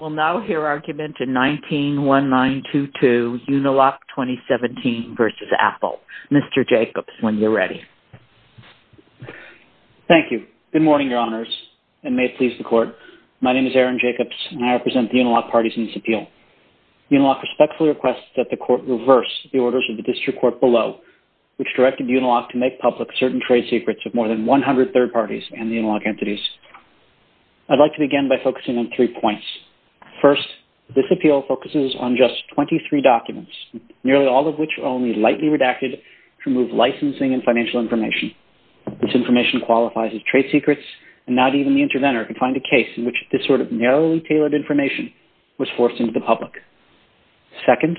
We'll now hear argument in 19-1922, Uniloc 2017 v. Apple. Mr. Jacobs, when you're ready. Thank you. Good morning, Your Honors, and may it please the Court. My name is Aaron Jacobs, and I represent the Uniloc parties in this appeal. Uniloc respectfully requests that the Court reverse the orders of the District Court below, which directed Uniloc to make public certain trade secrets of more than 100 third parties and Uniloc entities. I'd like to begin by focusing on three points. First, this appeal focuses on just 23 documents, nearly all of which are only lightly redacted to remove licensing and financial information. This information qualifies as trade secrets, and not even the interventor can find a case in which this sort of narrowly tailored information was forced into the public. Second,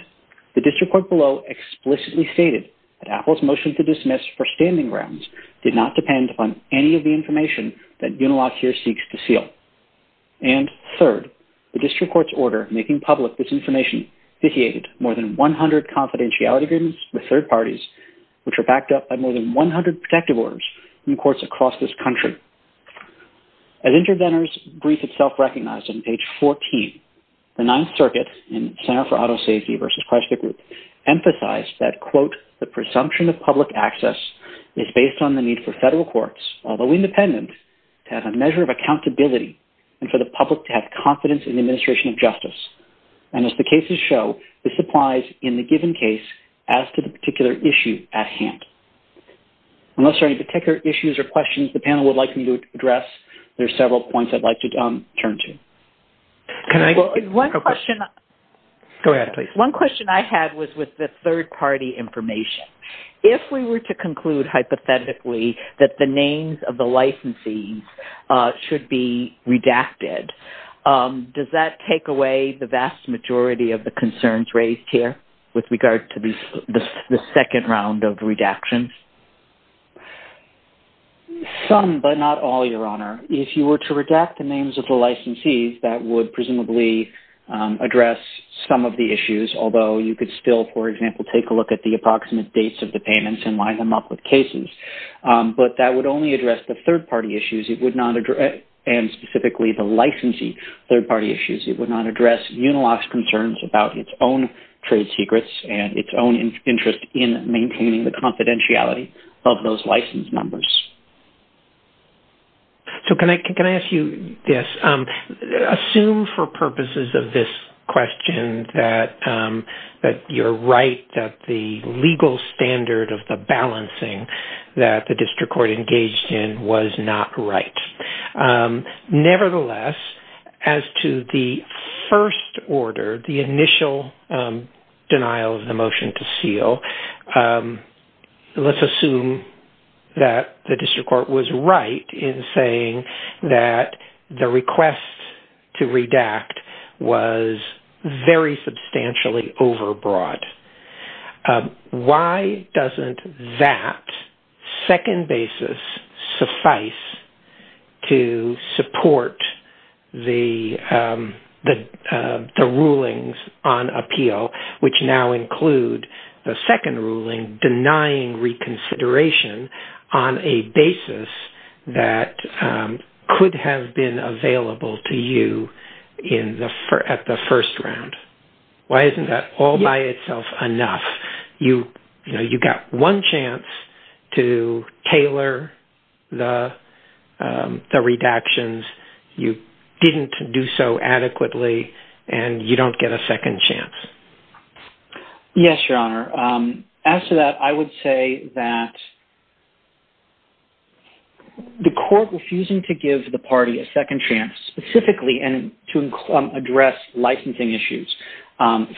the District Court below explicitly stated that Apple's motion to dismiss for standing grounds did not depend upon any of the information that Uniloc here seeks to seal. And third, the District Court's order making public this information vitiated more than 100 confidentiality agreements with third parties, which are backed up by more than 100 protective orders in courts across this country. As interventors' brief itself recognized on page 14, the Ninth Circuit in Center for Auto Safety v. Chrysler Group emphasized that, quote, the presumption of public access is based on the need for federal courts, although independent, to have a measure of accountability and for the public to have confidence in the administration of justice. And as the cases show, this applies in the given case as to the particular issue at hand. Unless there are any particular issues or questions the panel would like me to address, there are several points I'd like to turn to. One question I had was with the third-party information. If we were to conclude hypothetically that the names of the licensees should be redacted, does that take away the vast majority of the concerns raised here with regard to the second round of redactions? Some, but not all, Your Honor. If you were to redact the names of the licensees, that would presumably address some of the issues, although you could still, for example, take a look at the approximate dates of the payments and line them up with cases. But that would only address the third-party issues, and specifically the licensee third-party issues. It would not address Unilock's concerns about its own trade secrets and its own interest in maintaining the confidentiality of those license numbers. So can I ask you this? Assume for purposes of this question that you're right that the legal standard of the balancing that the district court engaged in was not right. Nevertheless, as to the first order, the initial denial of the motion to seal, let's assume that the district court was right in saying that the request to redact was very substantially overbroad. Why doesn't that second basis suffice to support the rulings on appeal, which now include the second ruling denying reconsideration on a basis that could have been available to you at the first round? Why isn't that all by itself enough? You got one chance to tailor the redactions. You didn't do so adequately, and you don't get a second chance. Yes, Your Honor. As to that, I would say that the court refusing to give the party a second chance specifically to address licensing issues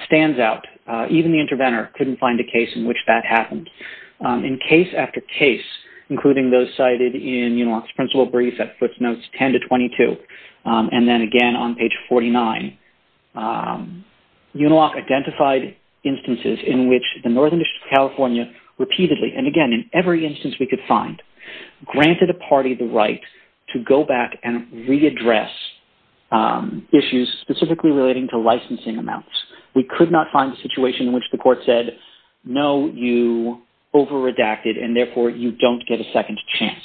stands out. Even the interventor couldn't find a case in which that happened. In case after case, including those cited in Unilock's principal brief at footnotes 10 to 22, and then again on page 49, Unilock identified instances in which the Northern District of California repeatedly, and again in every instance we could find, granted a party the right to go back and readdress issues specifically relating to licensing amounts. We could not find a situation in which the court said, no, you over-redacted, and therefore you don't get a second chance.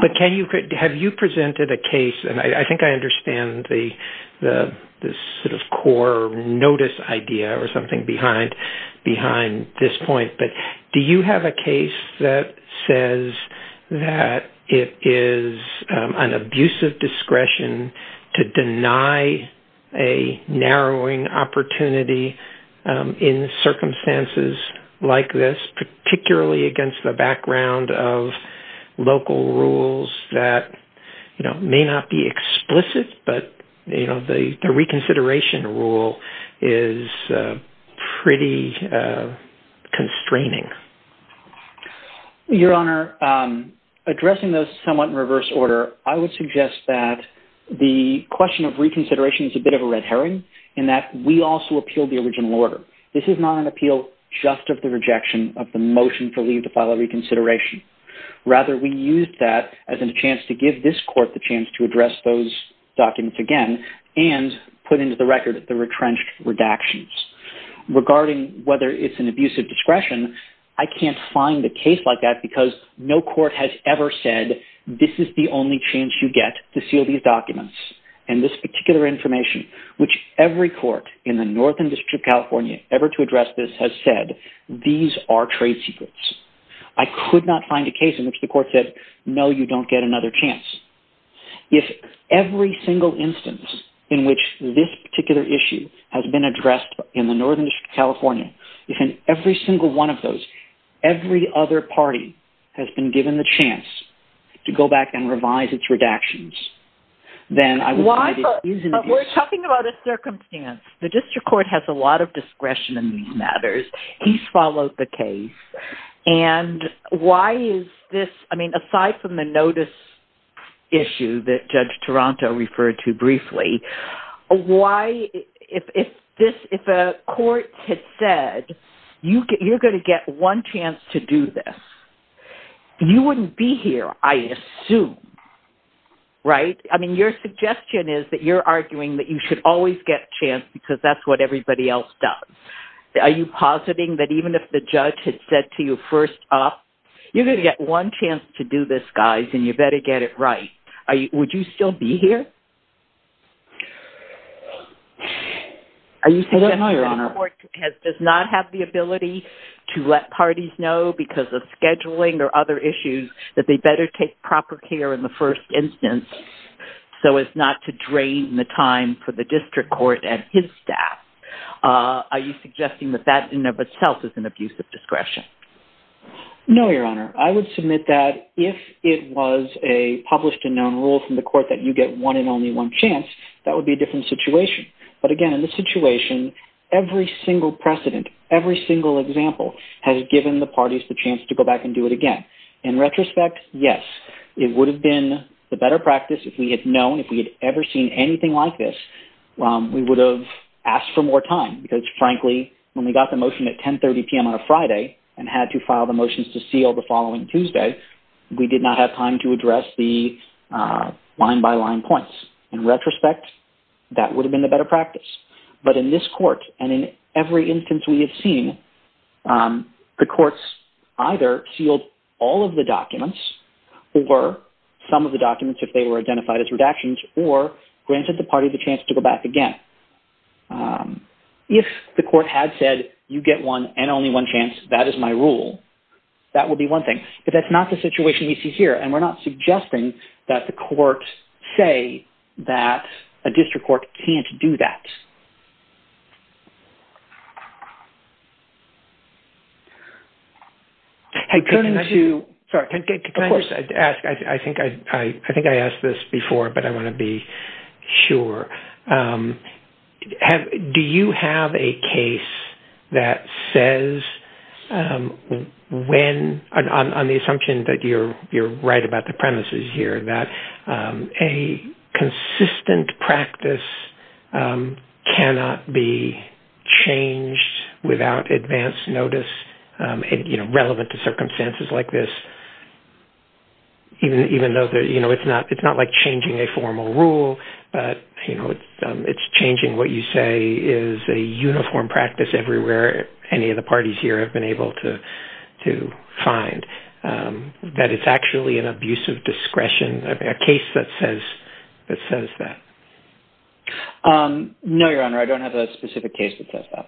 But have you presented a case, and I think I understand the sort of core notice idea or something behind this point, but do you have a case that says that it is an abuse of discretion to deny a narrowing opportunity in circumstances like this, particularly against the background of local rules that may not be explicit, but the reconsideration rule is pretty constraining? Your Honor, addressing those somewhat in reverse order, I would suggest that the question of reconsideration is a bit of a red herring in that we also appeal the original order. This is not an appeal just of the rejection of the motion for leave to file a reconsideration. Rather, we used that as a chance to give this court the chance to address those documents again and put into the record the retrenched redactions. Regarding whether it's an abuse of discretion, I can't find a case like that because no court has ever said this is the only chance you get to seal these documents. And this particular information, which every court in the Northern District of California ever to address this has said, these are trade secrets. I could not find a case in which the court said, no, you don't get another chance. If every single instance in which this particular issue has been addressed in the Northern District of California, if in every single one of those, every other party has been given the chance to go back and revise its redactions, then I would say it is an abuse. But we're talking about a circumstance. The district court has a lot of discretion in these matters. He's followed the case. And why is this? I mean, aside from the notice issue that Judge Toronto referred to briefly, why if a court had said, you're going to get one chance to do this, you wouldn't be here, I assume. Right? I mean, your suggestion is that you're arguing that you should always get a chance because that's what everybody else does. Are you positing that even if the judge had said to you first up, you're going to get one chance to do this, guys, and you better get it right. Would you still be here? I don't know, Your Honor. Are you suggesting that a court does not have the ability to let parties know because of scheduling or other issues that they better take proper care in the first instance so as not to drain the time for the district court and his staff? Are you suggesting that that in and of itself is an abuse of discretion? No, Your Honor. I would submit that if it was a published and known rule from the court that you get one and only one chance, that would be a different situation. But again, in this situation, every single precedent, every single example has given the parties the chance to go back and do it again. In retrospect, yes. It would have been the better practice if we had known, if we had ever seen anything like this, we would have asked for more time because, frankly, when we got the motion at 10.30 p.m. on a Friday and had to file the motions to seal the following Tuesday, we did not have time to address the line-by-line points. In retrospect, that would have been the better practice. But in this court and in every instance we have seen, the courts either sealed all of the documents or some of the documents if they were identified as redactions or granted the party the chance to go back again. If the court had said, you get one and only one chance, that is my rule, that would be one thing. But that's not the situation we see here, and we're not suggesting that the courts say that a district court can't do that. I think I asked this before, but I want to be sure. Do you have a case that says when, on the assumption that you're right about the premises here, that a consistent practice cannot be changed without advance notice, relevant to circumstances like this, even though it's not like changing a formal rule, but it's changing what you say is a uniform practice everywhere any of the parties here have been able to find, that it's actually an abuse of discretion, a case that says that? No, Your Honor, I don't have a specific case that says that.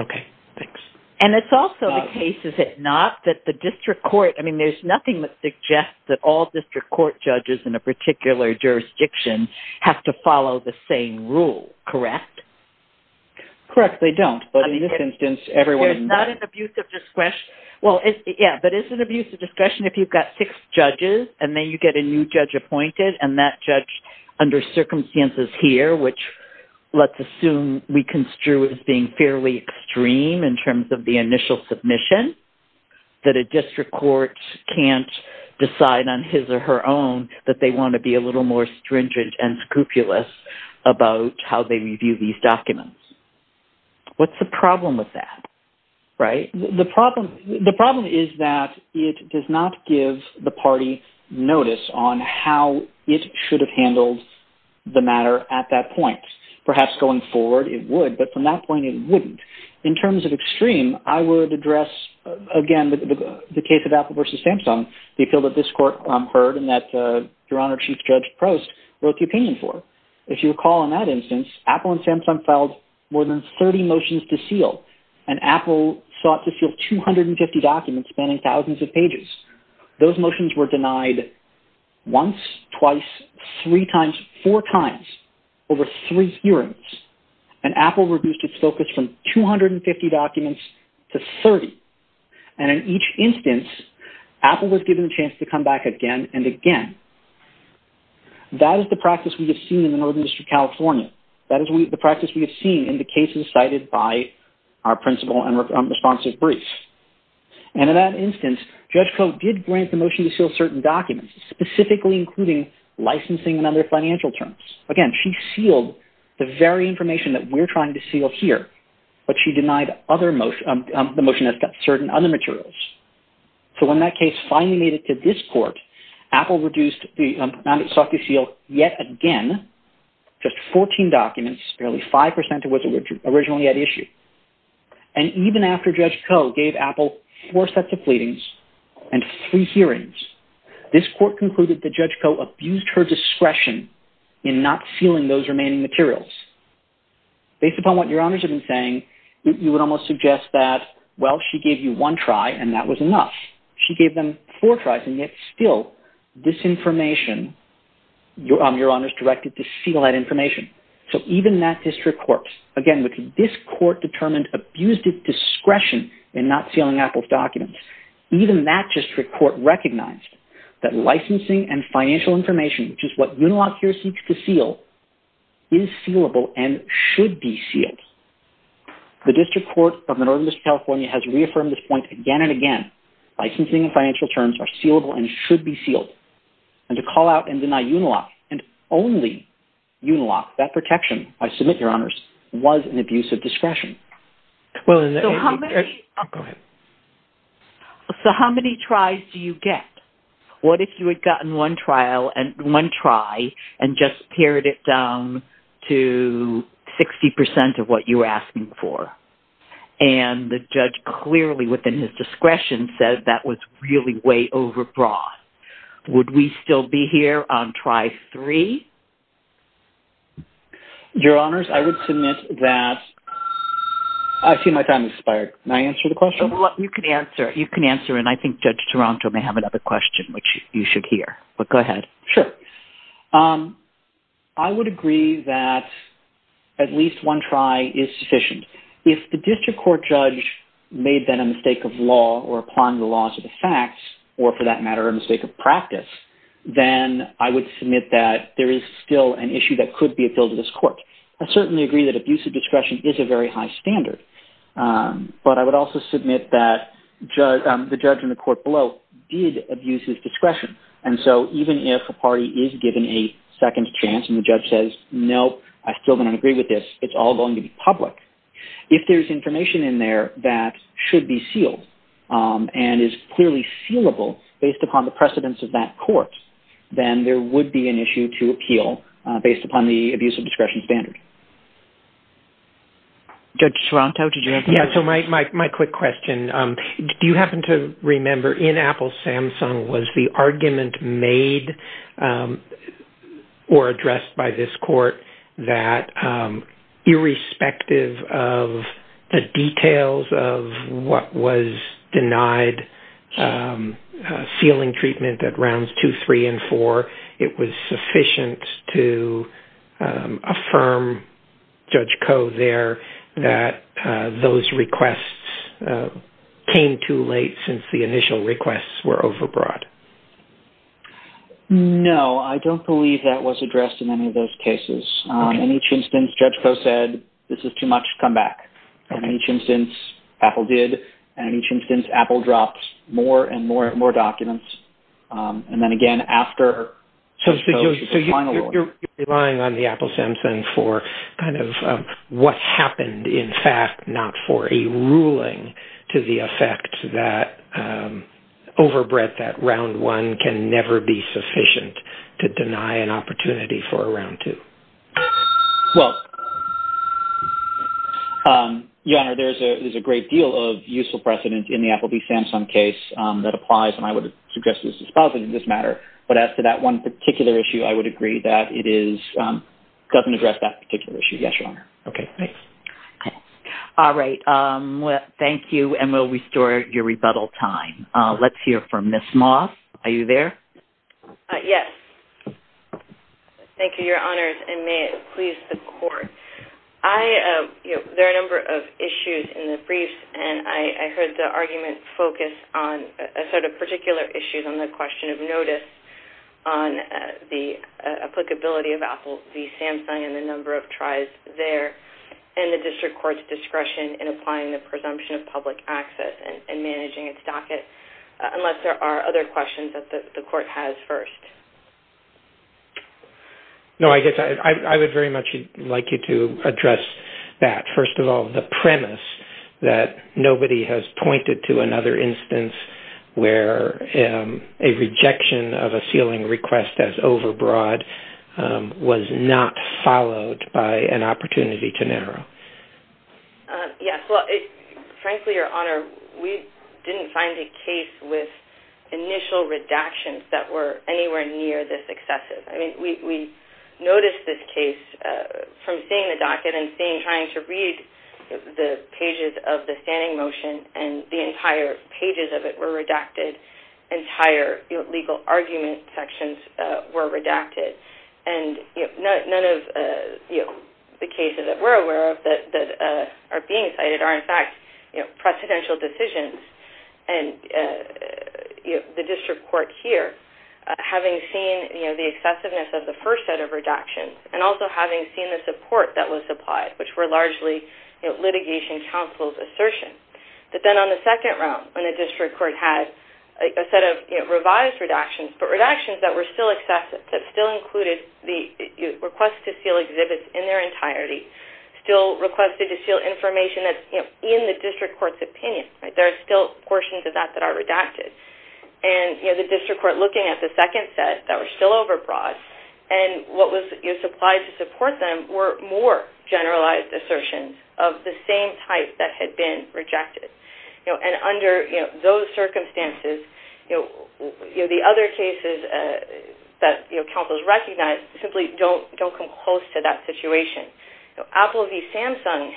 Okay, thanks. And it's also the case, is it not, that the district court, I mean, there's nothing that suggests that all district court judges in a particular jurisdiction have to follow the same rule, correct? Correct, they don't. But in this instance, everyone does. It's not an abuse of discretion. Yeah, but it's an abuse of discretion if you've got six judges, and then you get a new judge appointed, and that judge, under circumstances here, which let's assume we construe as being fairly extreme in terms of the initial submission, that a district court can't decide on his or her own that they want to be a little more stringent and scrupulous about how they review these documents. What's the problem with that, right? The problem is that it does not give the party notice on how it should have handled the matter at that point. Perhaps going forward it would, but from that point it wouldn't. In terms of extreme, I would address, again, the case of Apple versus Samsung, the appeal that this court heard and that Your Honour Chief Judge Prost wrote the opinion for. If you recall in that instance, Apple and Samsung filed more than 30 motions to seal, and Apple sought to seal 250 documents spanning thousands of pages. Those motions were denied once, twice, three times, four times, over three hearings, and Apple reduced its focus from 250 documents to 30. In each instance, Apple was given a chance to come back again and again. That is the practice we have seen in the Northern District of California. That is the practice we have seen in the cases cited by our principal and responsive briefs. In that instance, Judge Koh did grant the motion to seal certain documents, specifically including licensing and other financial terms. Again, she sealed the very information that we're trying to seal here, but she denied the motion that's got certain other materials. So when that case finally made it to this court, Apple reduced the amount it sought to seal yet again, just 14 documents, barely 5% of what was originally at issue. And even after Judge Koh gave Apple four sets of pleadings and three hearings, this court concluded that Judge Koh abused her discretion in not sealing those remaining materials. Based upon what Your Honors have been saying, you would almost suggest that, well, she gave you one try and that was enough. She gave them four tries and yet still, this information, Your Honors directed to seal that information. So even that district court, again, this court determined abused its discretion in not sealing Apple's documents. Even that district court recognized that licensing and financial information, which is what Unilock here seeks to seal, is sealable and should be sealed. The district court of Northern District of California has reaffirmed this point again and again. Licensing and financial terms are sealable and should be sealed. And to call out and deny Unilock and only Unilock, that protection, I submit, Your Honors, was an abuse of discretion. So how many tries do you get? What if you had gotten one try and just pared it down to 60% of what you were asking for? And the judge clearly, within his discretion, said that was really way overbroad. Would we still be here on try three? Your Honors, I would submit that— I see my time has expired. Can I answer the question? You can answer, and I think Judge Taranto may have another question, which you should hear. But go ahead. Sure. I would agree that at least one try is sufficient. If the district court judge made then a mistake of law or applying the laws of the facts, or for that matter, a mistake of practice, then I would submit that there is still an issue that could be appealed to this court. I certainly agree that abuse of discretion is a very high standard. But I would also submit that the judge in the court below did abuse his discretion. And so even if a party is given a second chance and the judge says, No, I still do not agree with this, it's all going to be public. If there's information in there that should be sealed and is clearly sealable based upon the precedence of that court, then there would be an issue to appeal based upon the abuse of discretion standard. Judge Taranto, did you have a question? Yeah, so my quick question. Do you happen to remember in Apple's Samsung, was the argument made or addressed by this court that irrespective of the details of what was denied, sealing treatment at rounds two, three, and four, it was sufficient to affirm, Judge Koh there, that those requests came too late since the initial requests were overbrought? No, I don't believe that was addressed in any of those cases. In each instance, Judge Koh said, This is too much, come back. And in each instance, Apple did. And in each instance, Apple dropped more and more documents. And then again, after Judge Koh's final ruling. So you're relying on the Apple Samsung for kind of what happened, in fact, not for a ruling to the effect that overbred that round one can never be sufficient to deny an opportunity for a round two. Well, Your Honor, there's a great deal of useful precedent in the Apple v. Samsung case that applies, and I would suggest this is positive in this matter. But as to that one particular issue, I would agree that it doesn't address that particular issue. Yes, Your Honor. Okay, thanks. All right. Well, thank you. And we'll restore your rebuttal time. Let's hear from Ms. Moss. Are you there? Yes. Thank you, Your Honors, and may it please the Court. There are a number of issues in the briefs, and I heard the argument focus on a set of particular issues on the question of notice, on the applicability of Apple v. Samsung and the number of tries there, and the district court's discretion in applying the presumption of public access and managing its docket, unless there are other questions that the Court has first. No, I guess I would very much like you to address that. First of all, the premise that nobody has pointed to another instance where a rejection of a sealing request as overbroad was not followed by an opportunity to narrow. Yes. Well, frankly, Your Honor, we didn't find a case with initial redactions that were anywhere near this excessive. I mean, we noticed this case from seeing the docket and trying to read the pages of the standing motion, and the entire pages of it were redacted, entire legal argument sections were redacted, and none of the cases that we're aware of that are being cited are, in fact, presidential decisions and the district court here having seen the excessiveness of the first set of redactions and also having seen the support that was applied, which were largely litigation counsel's assertions. But then on the second round, when the district court had a set of revised redactions, but redactions that were still excessive, that still included the request to seal exhibits in their entirety, still requested to seal information that's in the district court's opinion. There are still portions of that that are redacted. And the district court looking at the second set that were still overbroad, and what was supplied to support them were more generalized assertions of the same type that had been rejected. And under those circumstances, the other cases that counsels recognize simply don't come close to that situation. Apple v. Samsung,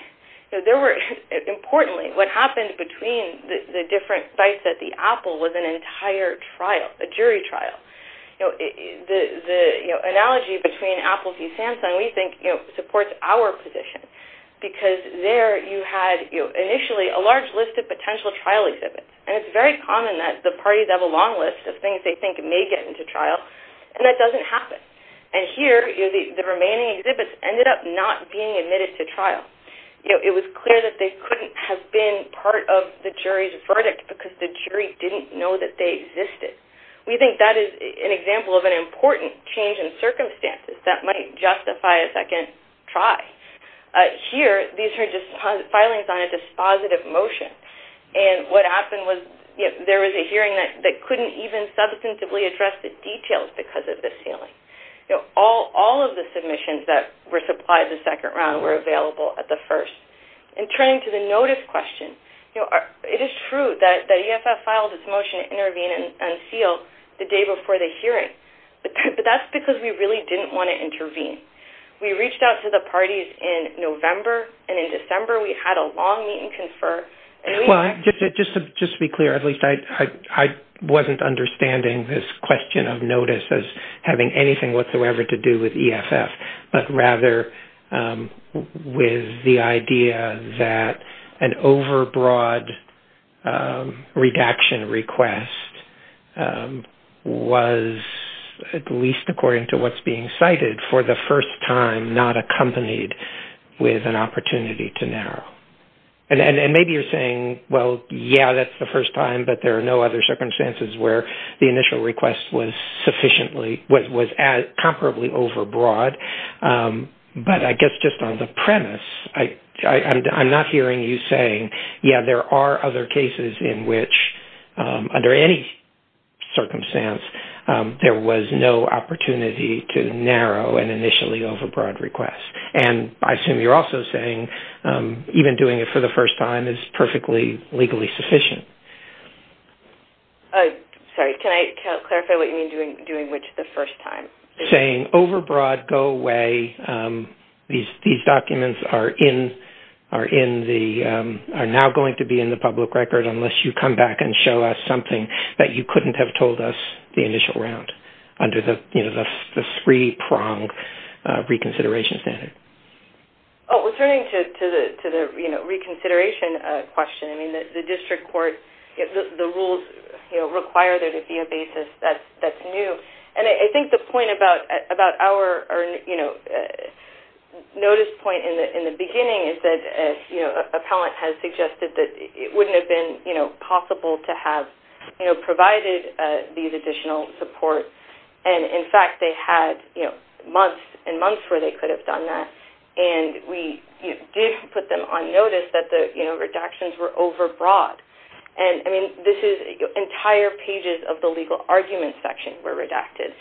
importantly, what happened between the different bites at the Apple was an entire trial, a jury trial. The analogy between Apple v. Samsung, we think, supports our position, because there you had initially a large list of potential trial exhibits. And it's very common that the parties have a long list of things they think may get into trial, and that doesn't happen. And here the remaining exhibits ended up not being admitted to trial. It was clear that they couldn't have been part of the jury's verdict because the jury didn't know that they existed. We think that is an example of an important change in circumstances that might justify a second try. Here, these are filings on a dispositive motion. And what happened was there was a hearing that couldn't even substantively address the details because of this ceiling. All of the submissions that were supplied the second round were available at the first. And turning to the notice question, it is true that EFF filed its motion to intervene and seal the day before the hearing. But that's because we really didn't want to intervene. We reached out to the parties in November, and in December we had a long meet and confer. Well, just to be clear, at least I wasn't understanding this question of notice as having anything whatsoever to do with EFF, but rather with the idea that an overbroad redaction request was, at least according to what's being cited, for the first time not accompanied with an opportunity to narrow. And maybe you're saying, well, yeah, that's the first time, but there are no other circumstances where the initial request was comparably overbroad. But I guess just on the premise, I'm not hearing you saying, yeah, there are other cases in which, under any circumstance, there was no opportunity to narrow an initially overbroad request. And I assume you're also saying even doing it for the first time is perfectly legally sufficient. Sorry, can I clarify what you mean doing which the first time? Saying overbroad, go away, these documents are now going to be in the public record unless you come back and show us something that you couldn't have told us the initial round under the three-pronged reconsideration standard. Oh, returning to the reconsideration question, the district court, the rules require there to be a basis. That's new. And I think the point about our notice point in the beginning is that an appellant has suggested that it wouldn't have been possible to have provided these additional supports. And, in fact, they had months and months where they could have done that. And we did put them on notice that the redactions were overbroad. And, I mean, this is entire pages of the legal argument section were redacted.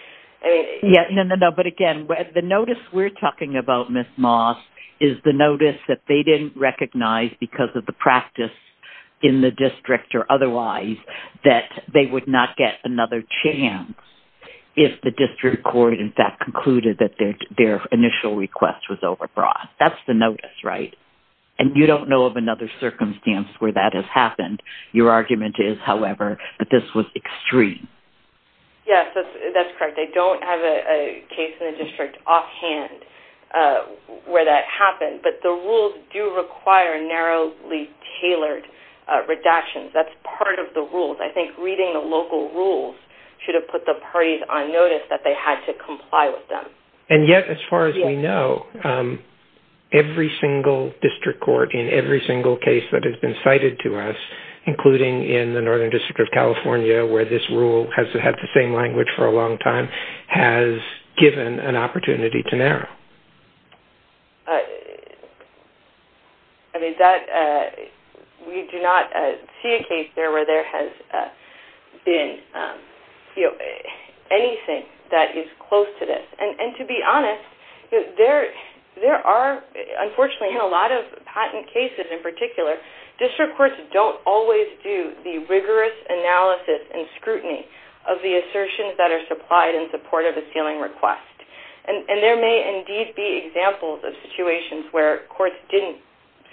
No, no, no, but again, the notice we're talking about, Ms. Moss, is the notice that they didn't recognize because of the practice in the district or otherwise that they would not get another chance if the district court, in fact, concluded that their initial request was overbroad. That's the notice, right? And you don't know of another circumstance where that has happened. Your argument is, however, that this was extreme. Yes, that's correct. They don't have a case in the district offhand where that happened. But the rules do require narrowly tailored redactions. That's part of the rules. I think reading the local rules should have put the parties on notice that they had to comply with them. And yet, as far as we know, every single district court in every single case that has been cited to us, including in the Northern District of California where this rule has had the same language for a long time, has given an opportunity to narrow. I mean, we do not see a case there where there has been anything that is close to this. And to be honest, there are, unfortunately, in a lot of patent cases in particular, district courts don't always do the rigorous analysis and scrutiny of the assertions that are supplied in support of a sealing request. And there may indeed be examples of situations where courts didn't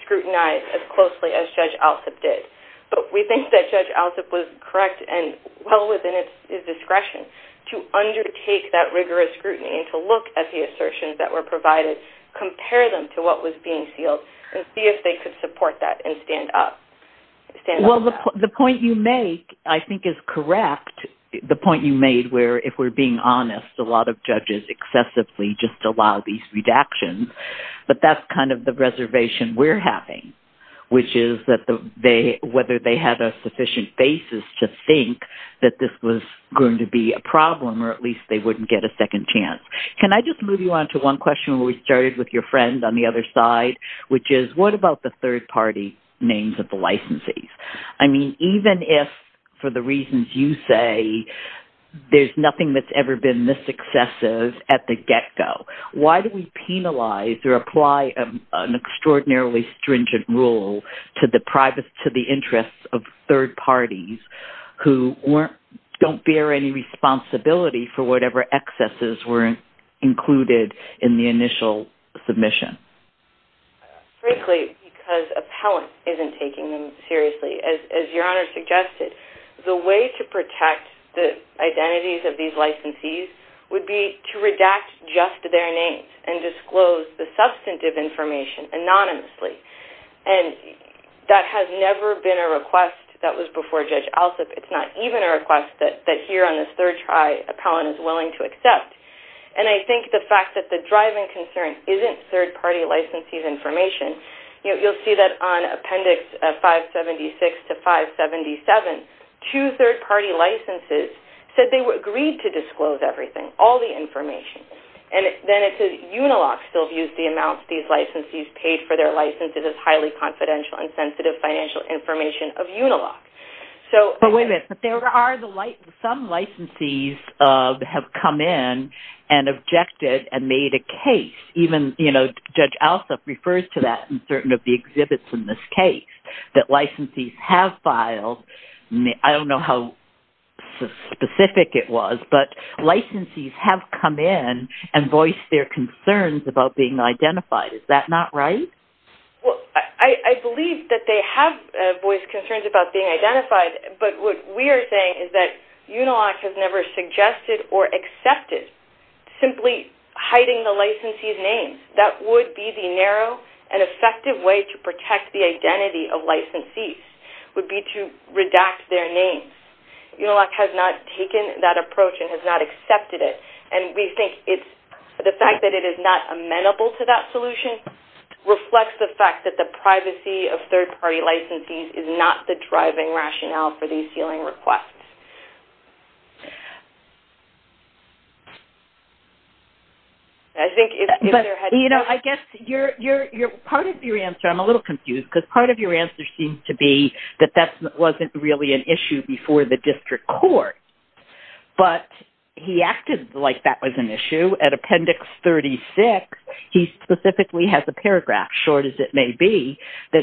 scrutinize as closely as Judge Alsup did. But we think that Judge Alsup was correct and well within his discretion to undertake that rigorous scrutiny and to look at the assertions that were provided, compare them to what was being sealed, and see if they could support that and stand up. Well, the point you make, I think, is correct. The point you made where, if we're being honest, a lot of judges excessively just allow these redactions. But that's kind of the reservation we're having, which is whether they have a sufficient basis to think that this was going to be a problem or at least they wouldn't get a second chance. Can I just move you on to one question where we started with your friend on the other side, which is what about the third-party names of the licensees? I mean, even if, for the reasons you say, there's nothing that's ever been this excessive at the get-go, why do we penalize or apply an extraordinarily stringent rule to the interests of third parties who don't bear any responsibility for whatever excesses were included in the initial submission? Frankly, because appellant isn't taking them seriously. As your Honor suggested, the way to protect the identities of these licensees would be to redact just their names and disclose the substantive information anonymously. And that has never been a request that was before Judge Alsop. It's not even a request that here on this third try, appellant is willing to accept. And I think the fact that the driving concern isn't third-party licensees' information. You'll see that on Appendix 576 to 577, two third-party licenses said they agreed to disclose everything, all the information. And then it says, Unilock still views the amounts these licensees paid for their licenses as highly confidential and sensitive financial information of Unilock. But wait a minute. Some licensees have come in and objected and made a case. Even Judge Alsop refers to that in certain of the exhibits in this case, that licensees have filed. I don't know how specific it was, but licensees have come in and voiced their concerns about being identified. Is that not right? Well, I believe that they have voiced concerns about being identified, but what we are saying is that Unilock has never suggested or accepted simply hiding the licensees' names. That would be the narrow and effective way to protect the identity of licensees, would be to redact their names. Unilock has not taken that approach and has not accepted it. And we think the fact that it is not amenable to that solution reflects the fact that the privacy of third-party licensees is not the driving rationale for these ceiling requests. I think if they're heading towards... You know, I guess part of your answer, I'm a little confused, because part of your answer seems to be that that wasn't really an issue before the district court. But he acted like that was an issue. At Appendix 36, he specifically has a paragraph, short as it may be, that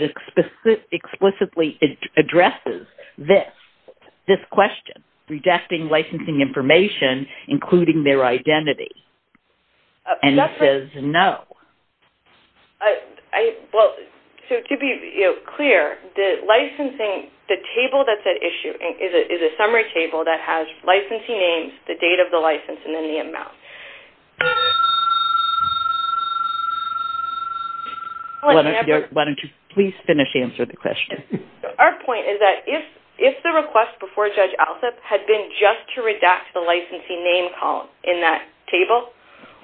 explicitly addresses this, this question, redacting licensing information, including their identity. And he says no. Well, to be clear, the licensing, the table that's at issue is a summary table that has licensee names, the date of the license, and then the amount. Why don't you please finish answering the question? Our point is that if the request before Judge Alsup had been just to redact the licensee name column in that table,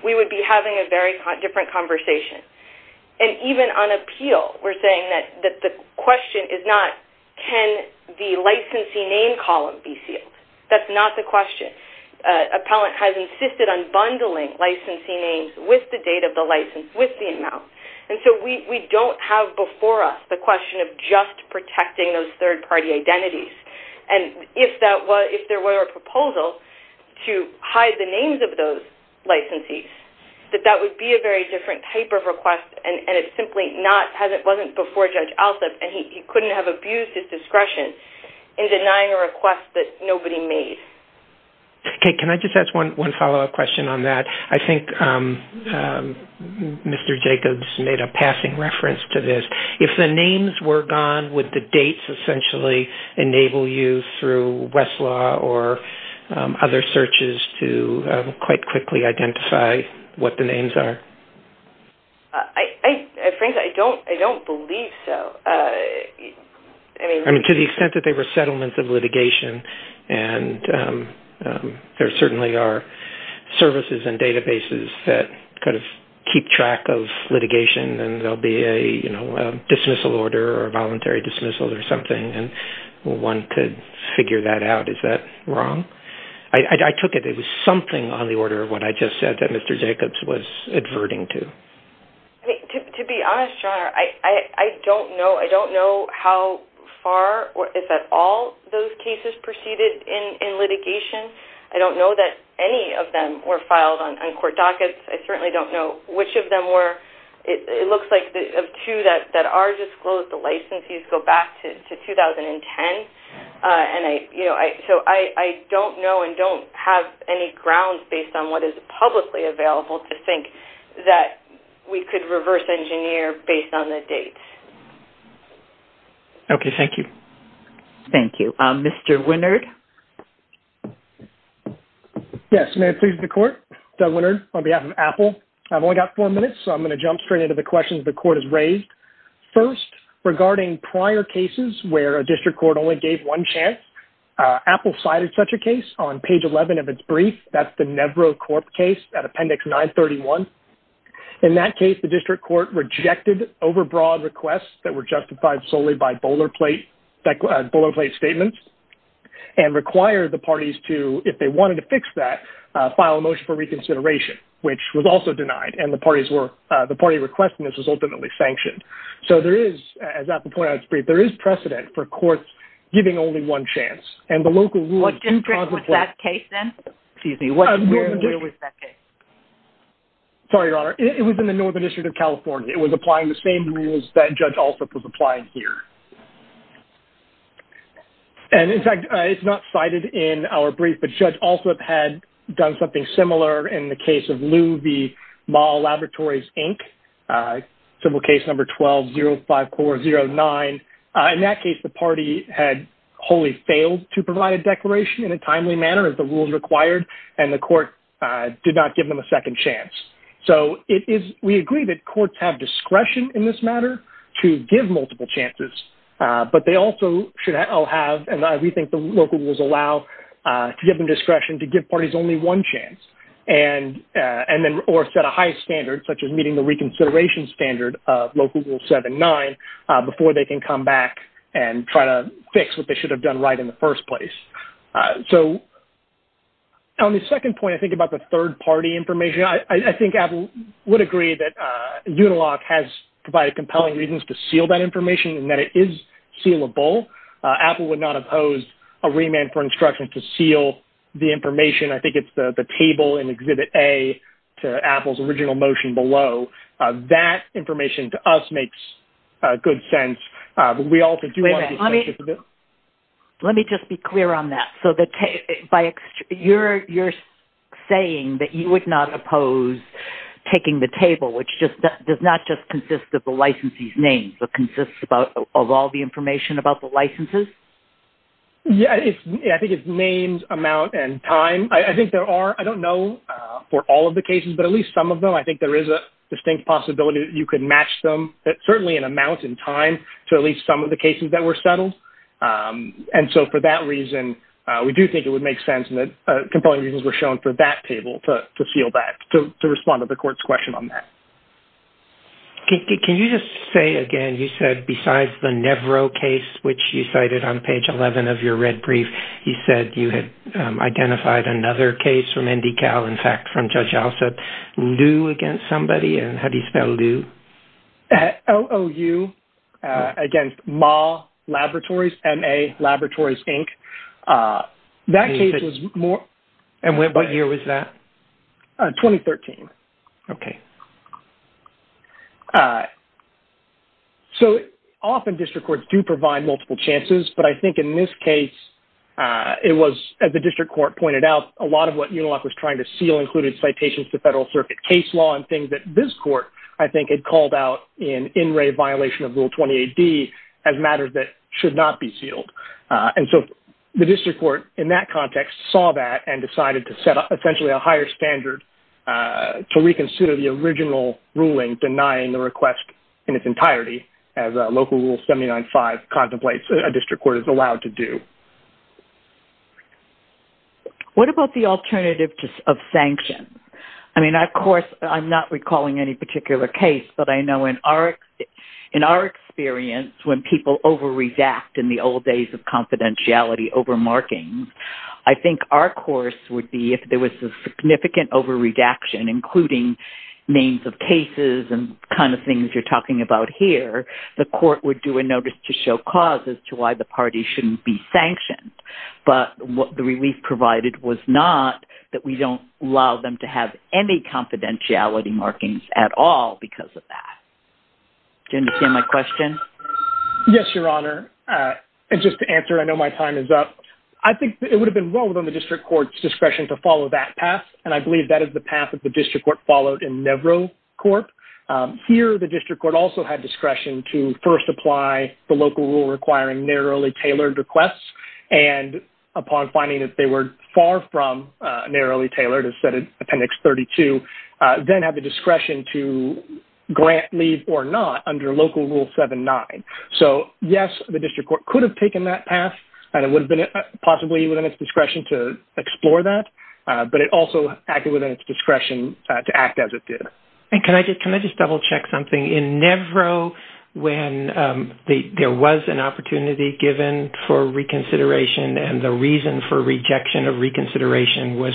we would be having a very different conversation. And even on appeal, we're saying that the question is not can the licensee name column be sealed. That's not the question. Appellant has insisted on bundling licensee names with the date of the license, with the amount. And so we don't have before us the question of just protecting those third-party identities. And if there were a proposal to hide the names of those licensees, that that would be a very different type of request, and it simply wasn't before Judge Alsup, and he couldn't have abused his discretion in denying a request that nobody made. Okay, can I just ask one follow-up question on that? I think Mr. Jacobs made a passing reference to this. If the names were gone, would the dates essentially enable you through Westlaw or other searches to quite quickly identify what the names are? I don't believe so. I mean, to the extent that they were settlements of litigation, and there certainly are services and databases that kind of keep track of litigation, and there'll be a dismissal order or voluntary dismissal or something, and one could figure that out. Is that wrong? I took it there was something on the order of what I just said that Mr. Jacobs was adverting to. To be honest, John, I don't know. I don't know how far or if at all those cases proceeded in litigation. I don't know that any of them were filed on court dockets. I certainly don't know which of them were. It looks like of two that are disclosed, the licensees go back to 2010. So I don't know and don't have any grounds based on what is publicly available to think that we could reverse engineer based on the dates. Okay, thank you. Thank you. Mr. Winard? Yes, may it please the Court? Doug Winard on behalf of Apple. I've only got four minutes, so I'm going to jump straight into the questions the Court has raised. First, regarding prior cases where a district court only gave one chance, Apple cited such a case on page 11 of its brief. That's the Nevro Corp case at Appendix 931. In that case, the district court rejected overbroad requests that were justified solely by boilerplate statements and required the parties to, if they wanted to fix that, file a motion for reconsideration, which was also denied, and the party requesting this was ultimately sanctioned. So there is, as Apple pointed out in its brief, there is precedent for courts giving only one chance. What district was that case in? Excuse me, where was that case? Sorry, Your Honor. It was in the Northern District of California. It was applying the same rules that Judge Alsup was applying here. And, in fact, it's not cited in our brief, but Judge Alsup had done something similar in the case of Lew v. Mahl Laboratories, Inc., civil case number 1205409. In that case, the party had wholly failed to provide a declaration in a timely manner, as the rules required, and the court did not give them a second chance. So we agree that courts have discretion in this matter to give multiple chances, but they also should all have, and we think the local rules allow, to give them discretion to give parties only one chance, or set a high standard, such as meeting the reconsideration standard, Local Rule 7-9, before they can come back and try to fix what they should have done right in the first place. So on the second point, I think, about the third-party information, I think Apple would agree that Unilock has provided compelling reasons to seal that information, and that it is sealable. Apple would not oppose a remand for instructions to seal the information. I think it's the table in Exhibit A to Apple's original motion below. That information, to us, makes good sense, but we also do want to be sensitive to this. Let me just be clear on that. So you're saying that you would not oppose taking the table, which does not just consist of the licensee's name, but consists of all the information about the licenses? Yeah, I think it's names, amount, and time. I think there are, I don't know for all of the cases, but at least some of them, I think there is a distinct possibility that you could match them, certainly in amount and time, to at least some of the cases that were settled. And so for that reason, we do think it would make sense, and compelling reasons were shown for that table to seal that, to respond to the court's question on that. Can you just say again, you said, besides the Nevro case, which you cited on page 11 of your red brief, you said you had identified another case from NDCal, in fact, from Judge Alsup, Lew against somebody, and how do you spell Lew? L-O-U, against MAH Laboratories, M-A Laboratories, Inc. That case was more... And what year was that? 2013. Okay. So often district courts do provide multiple chances, but I think in this case, it was, as the district court pointed out, a lot of what UNILOC was trying to seal included citations to Federal Circuit case law and things that this court, I think, had called out in in re violation of Rule 20 AD as matters that should not be sealed. And so the district court, in that context, saw that and decided to set up essentially a higher standard to reconsider the original ruling denying the request in its entirety, as Local Rule 79.5 contemplates a district court is allowed to do. What about the alternative of sanctions? I mean, of course, I'm not recalling any particular case, but I know in our experience, when people overreact in the old days of confidentiality over markings, I think our course would be if there was a significant overreaction, including names of cases and kind of things you're talking about here, the court would do a notice to show causes to why the party shouldn't be sanctioned. But what the relief provided was not that we don't allow them to have any confidentiality markings at all because of that. Do you understand my question? Yes, Your Honor. And just to answer, I know my time is up. I think it would have been well within the district court's discretion to follow that path, and I believe that is the path that the district court followed in Nevro Corp. Here, the district court also had discretion to first apply the local rule requiring narrowly tailored requests, and upon finding that they were far from narrowly tailored, as set in Appendix 32, then have the discretion to grant leave or not under Local Rule 79. So, yes, the district court could have taken that path, and it would have been possibly within its discretion to explore that, but it also acted within its discretion to act as it did. And can I just double-check something? In Nevro, when there was an opportunity given for reconsideration and the reason for rejection of reconsideration was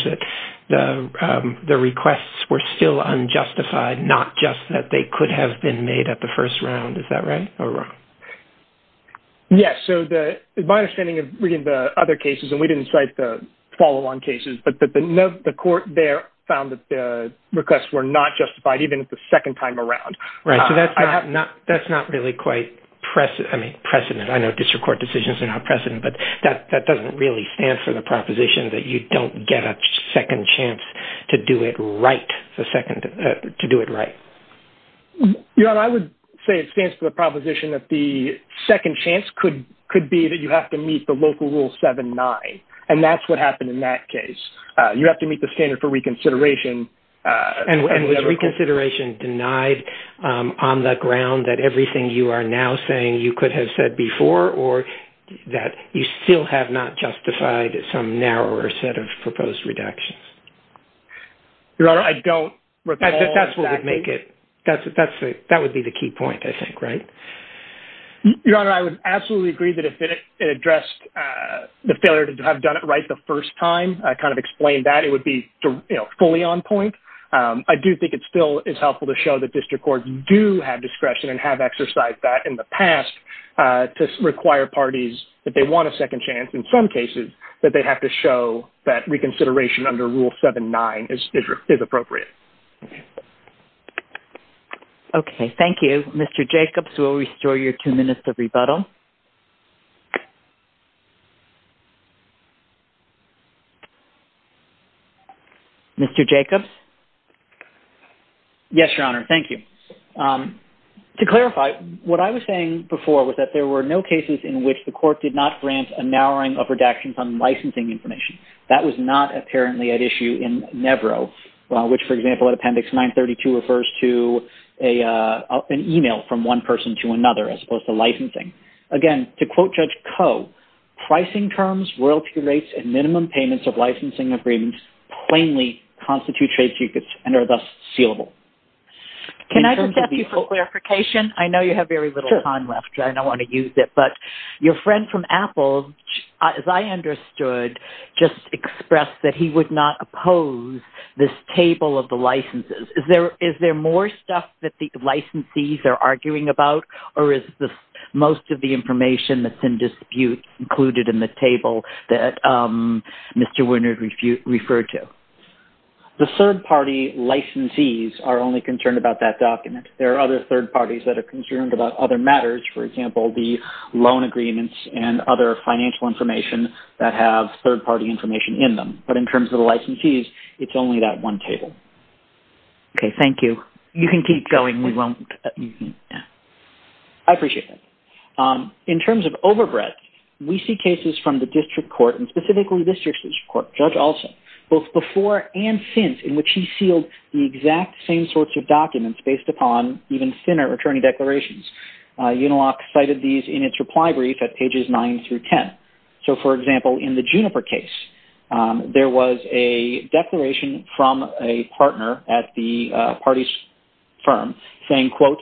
that the requests were still unjustified, not just that they could have been made at the first round. Is that right or wrong? Yes. So my understanding of reading the other cases, and we didn't cite the follow-on cases, but the court there found that the requests were not justified even at the second time around. Right. So that's not really quite precedent. I know district court decisions are not precedent, but that doesn't really stand for the proposition that you don't get a second chance to do it right. Your Honor, I would say it stands for the proposition that the second chance could be that you have to meet the Local Rule 79, and that's what happened in that case. You have to meet the standard for reconsideration. And was reconsideration denied on the ground that everything you are now saying you could have said before or that you still have not justified some narrower set of proposed redactions? Your Honor, I don't recall exactly. That would be the key point, I think, right? Your Honor, I would absolutely agree that if it addressed the failure to have done it right the first time, I kind of explained that. It would be fully on point. I do think it still is helpful to show that district courts do have discretion and have exercised that in the past to require parties, if they want a second chance in some cases, that they have to show that reconsideration under Rule 79 is appropriate. Okay, thank you. Mr. Jacobs, we'll restore your two minutes of rebuttal. Mr. Jacobs? Yes, Your Honor, thank you. To clarify, what I was saying before was that there were no cases in which the court did not grant a narrowing of redactions on licensing information. That was not apparently at issue in NEVRO, which, for example, at Appendix 932 refers to an email from one person to another as opposed to licensing. Again, to quote Judge Koh, pricing terms, royalty rates, and minimum payments of licensing agreements plainly constitute trade secrets and are thus sealable. Can I just ask you for clarification? I know you have very little time left, and I don't want to use it, but your friend from Apple, as I understood, just expressed that he would not oppose this table of the licenses. Is there more stuff that the licensees are arguing about, or is most of the information that's in dispute included in the table that Mr. Wynard referred to? The third-party licensees are only concerned about that document. There are other third parties that are concerned about other matters, for example, the loan agreements and other financial information that have third-party information in them. But in terms of the licensees, it's only that one table. Okay, thank you. You can keep going. I appreciate that. In terms of overbreadth, we see cases from the district court, and specifically the district court, Judge Olson, both before and since in which he sealed the exact same sorts of documents based upon even thinner attorney declarations. Unilock cited these in its reply brief at pages 9 through 10. So, for example, in the Juniper case, there was a declaration from a partner at the party's firm saying, quote,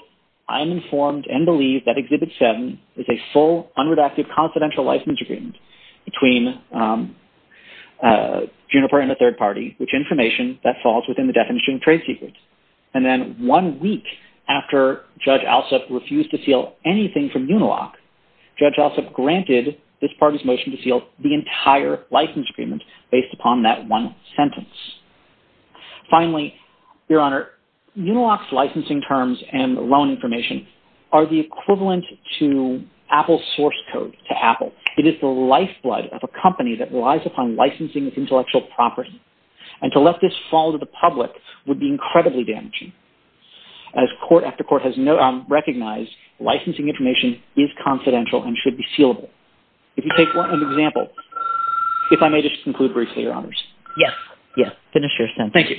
I'm informed and believe that Exhibit 7 is a full, unredacted confidential license agreement between Juniper and a third party, which information that falls within the definition of trade secrets. And then one week after Judge Olson refused to seal anything from Unilock, Judge Olson granted this party's motion to seal the entire license agreement based upon that one sentence. Finally, Your Honor, Unilock's licensing terms and loan information are the equivalent to Apple's source code to Apple. It is the lifeblood of a company that relies upon licensing its intellectual property. And to let this fall to the public would be incredibly damaging. As court after court has recognized, licensing information is confidential and should be sealable. If you take an example, if I may just conclude briefly, Your Honors. Yes, finish your sentence. Thank you.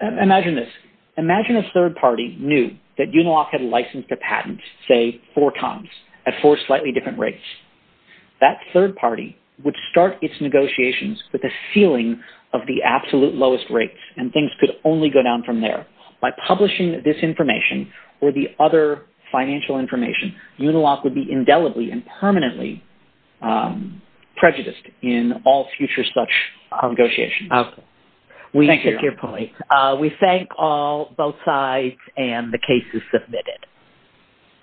Imagine this. Imagine a third party knew that Unilock had licensed a patent, say, four times at four slightly different rates. That third party would start its negotiations with a sealing of the absolute lowest rates, and things could only go down from there. By publishing this information or the other financial information, Unilock would be indelibly and permanently prejudiced in all future such negotiations. Thank you, Your Honor. We take your point. We thank both sides, and the case is submitted.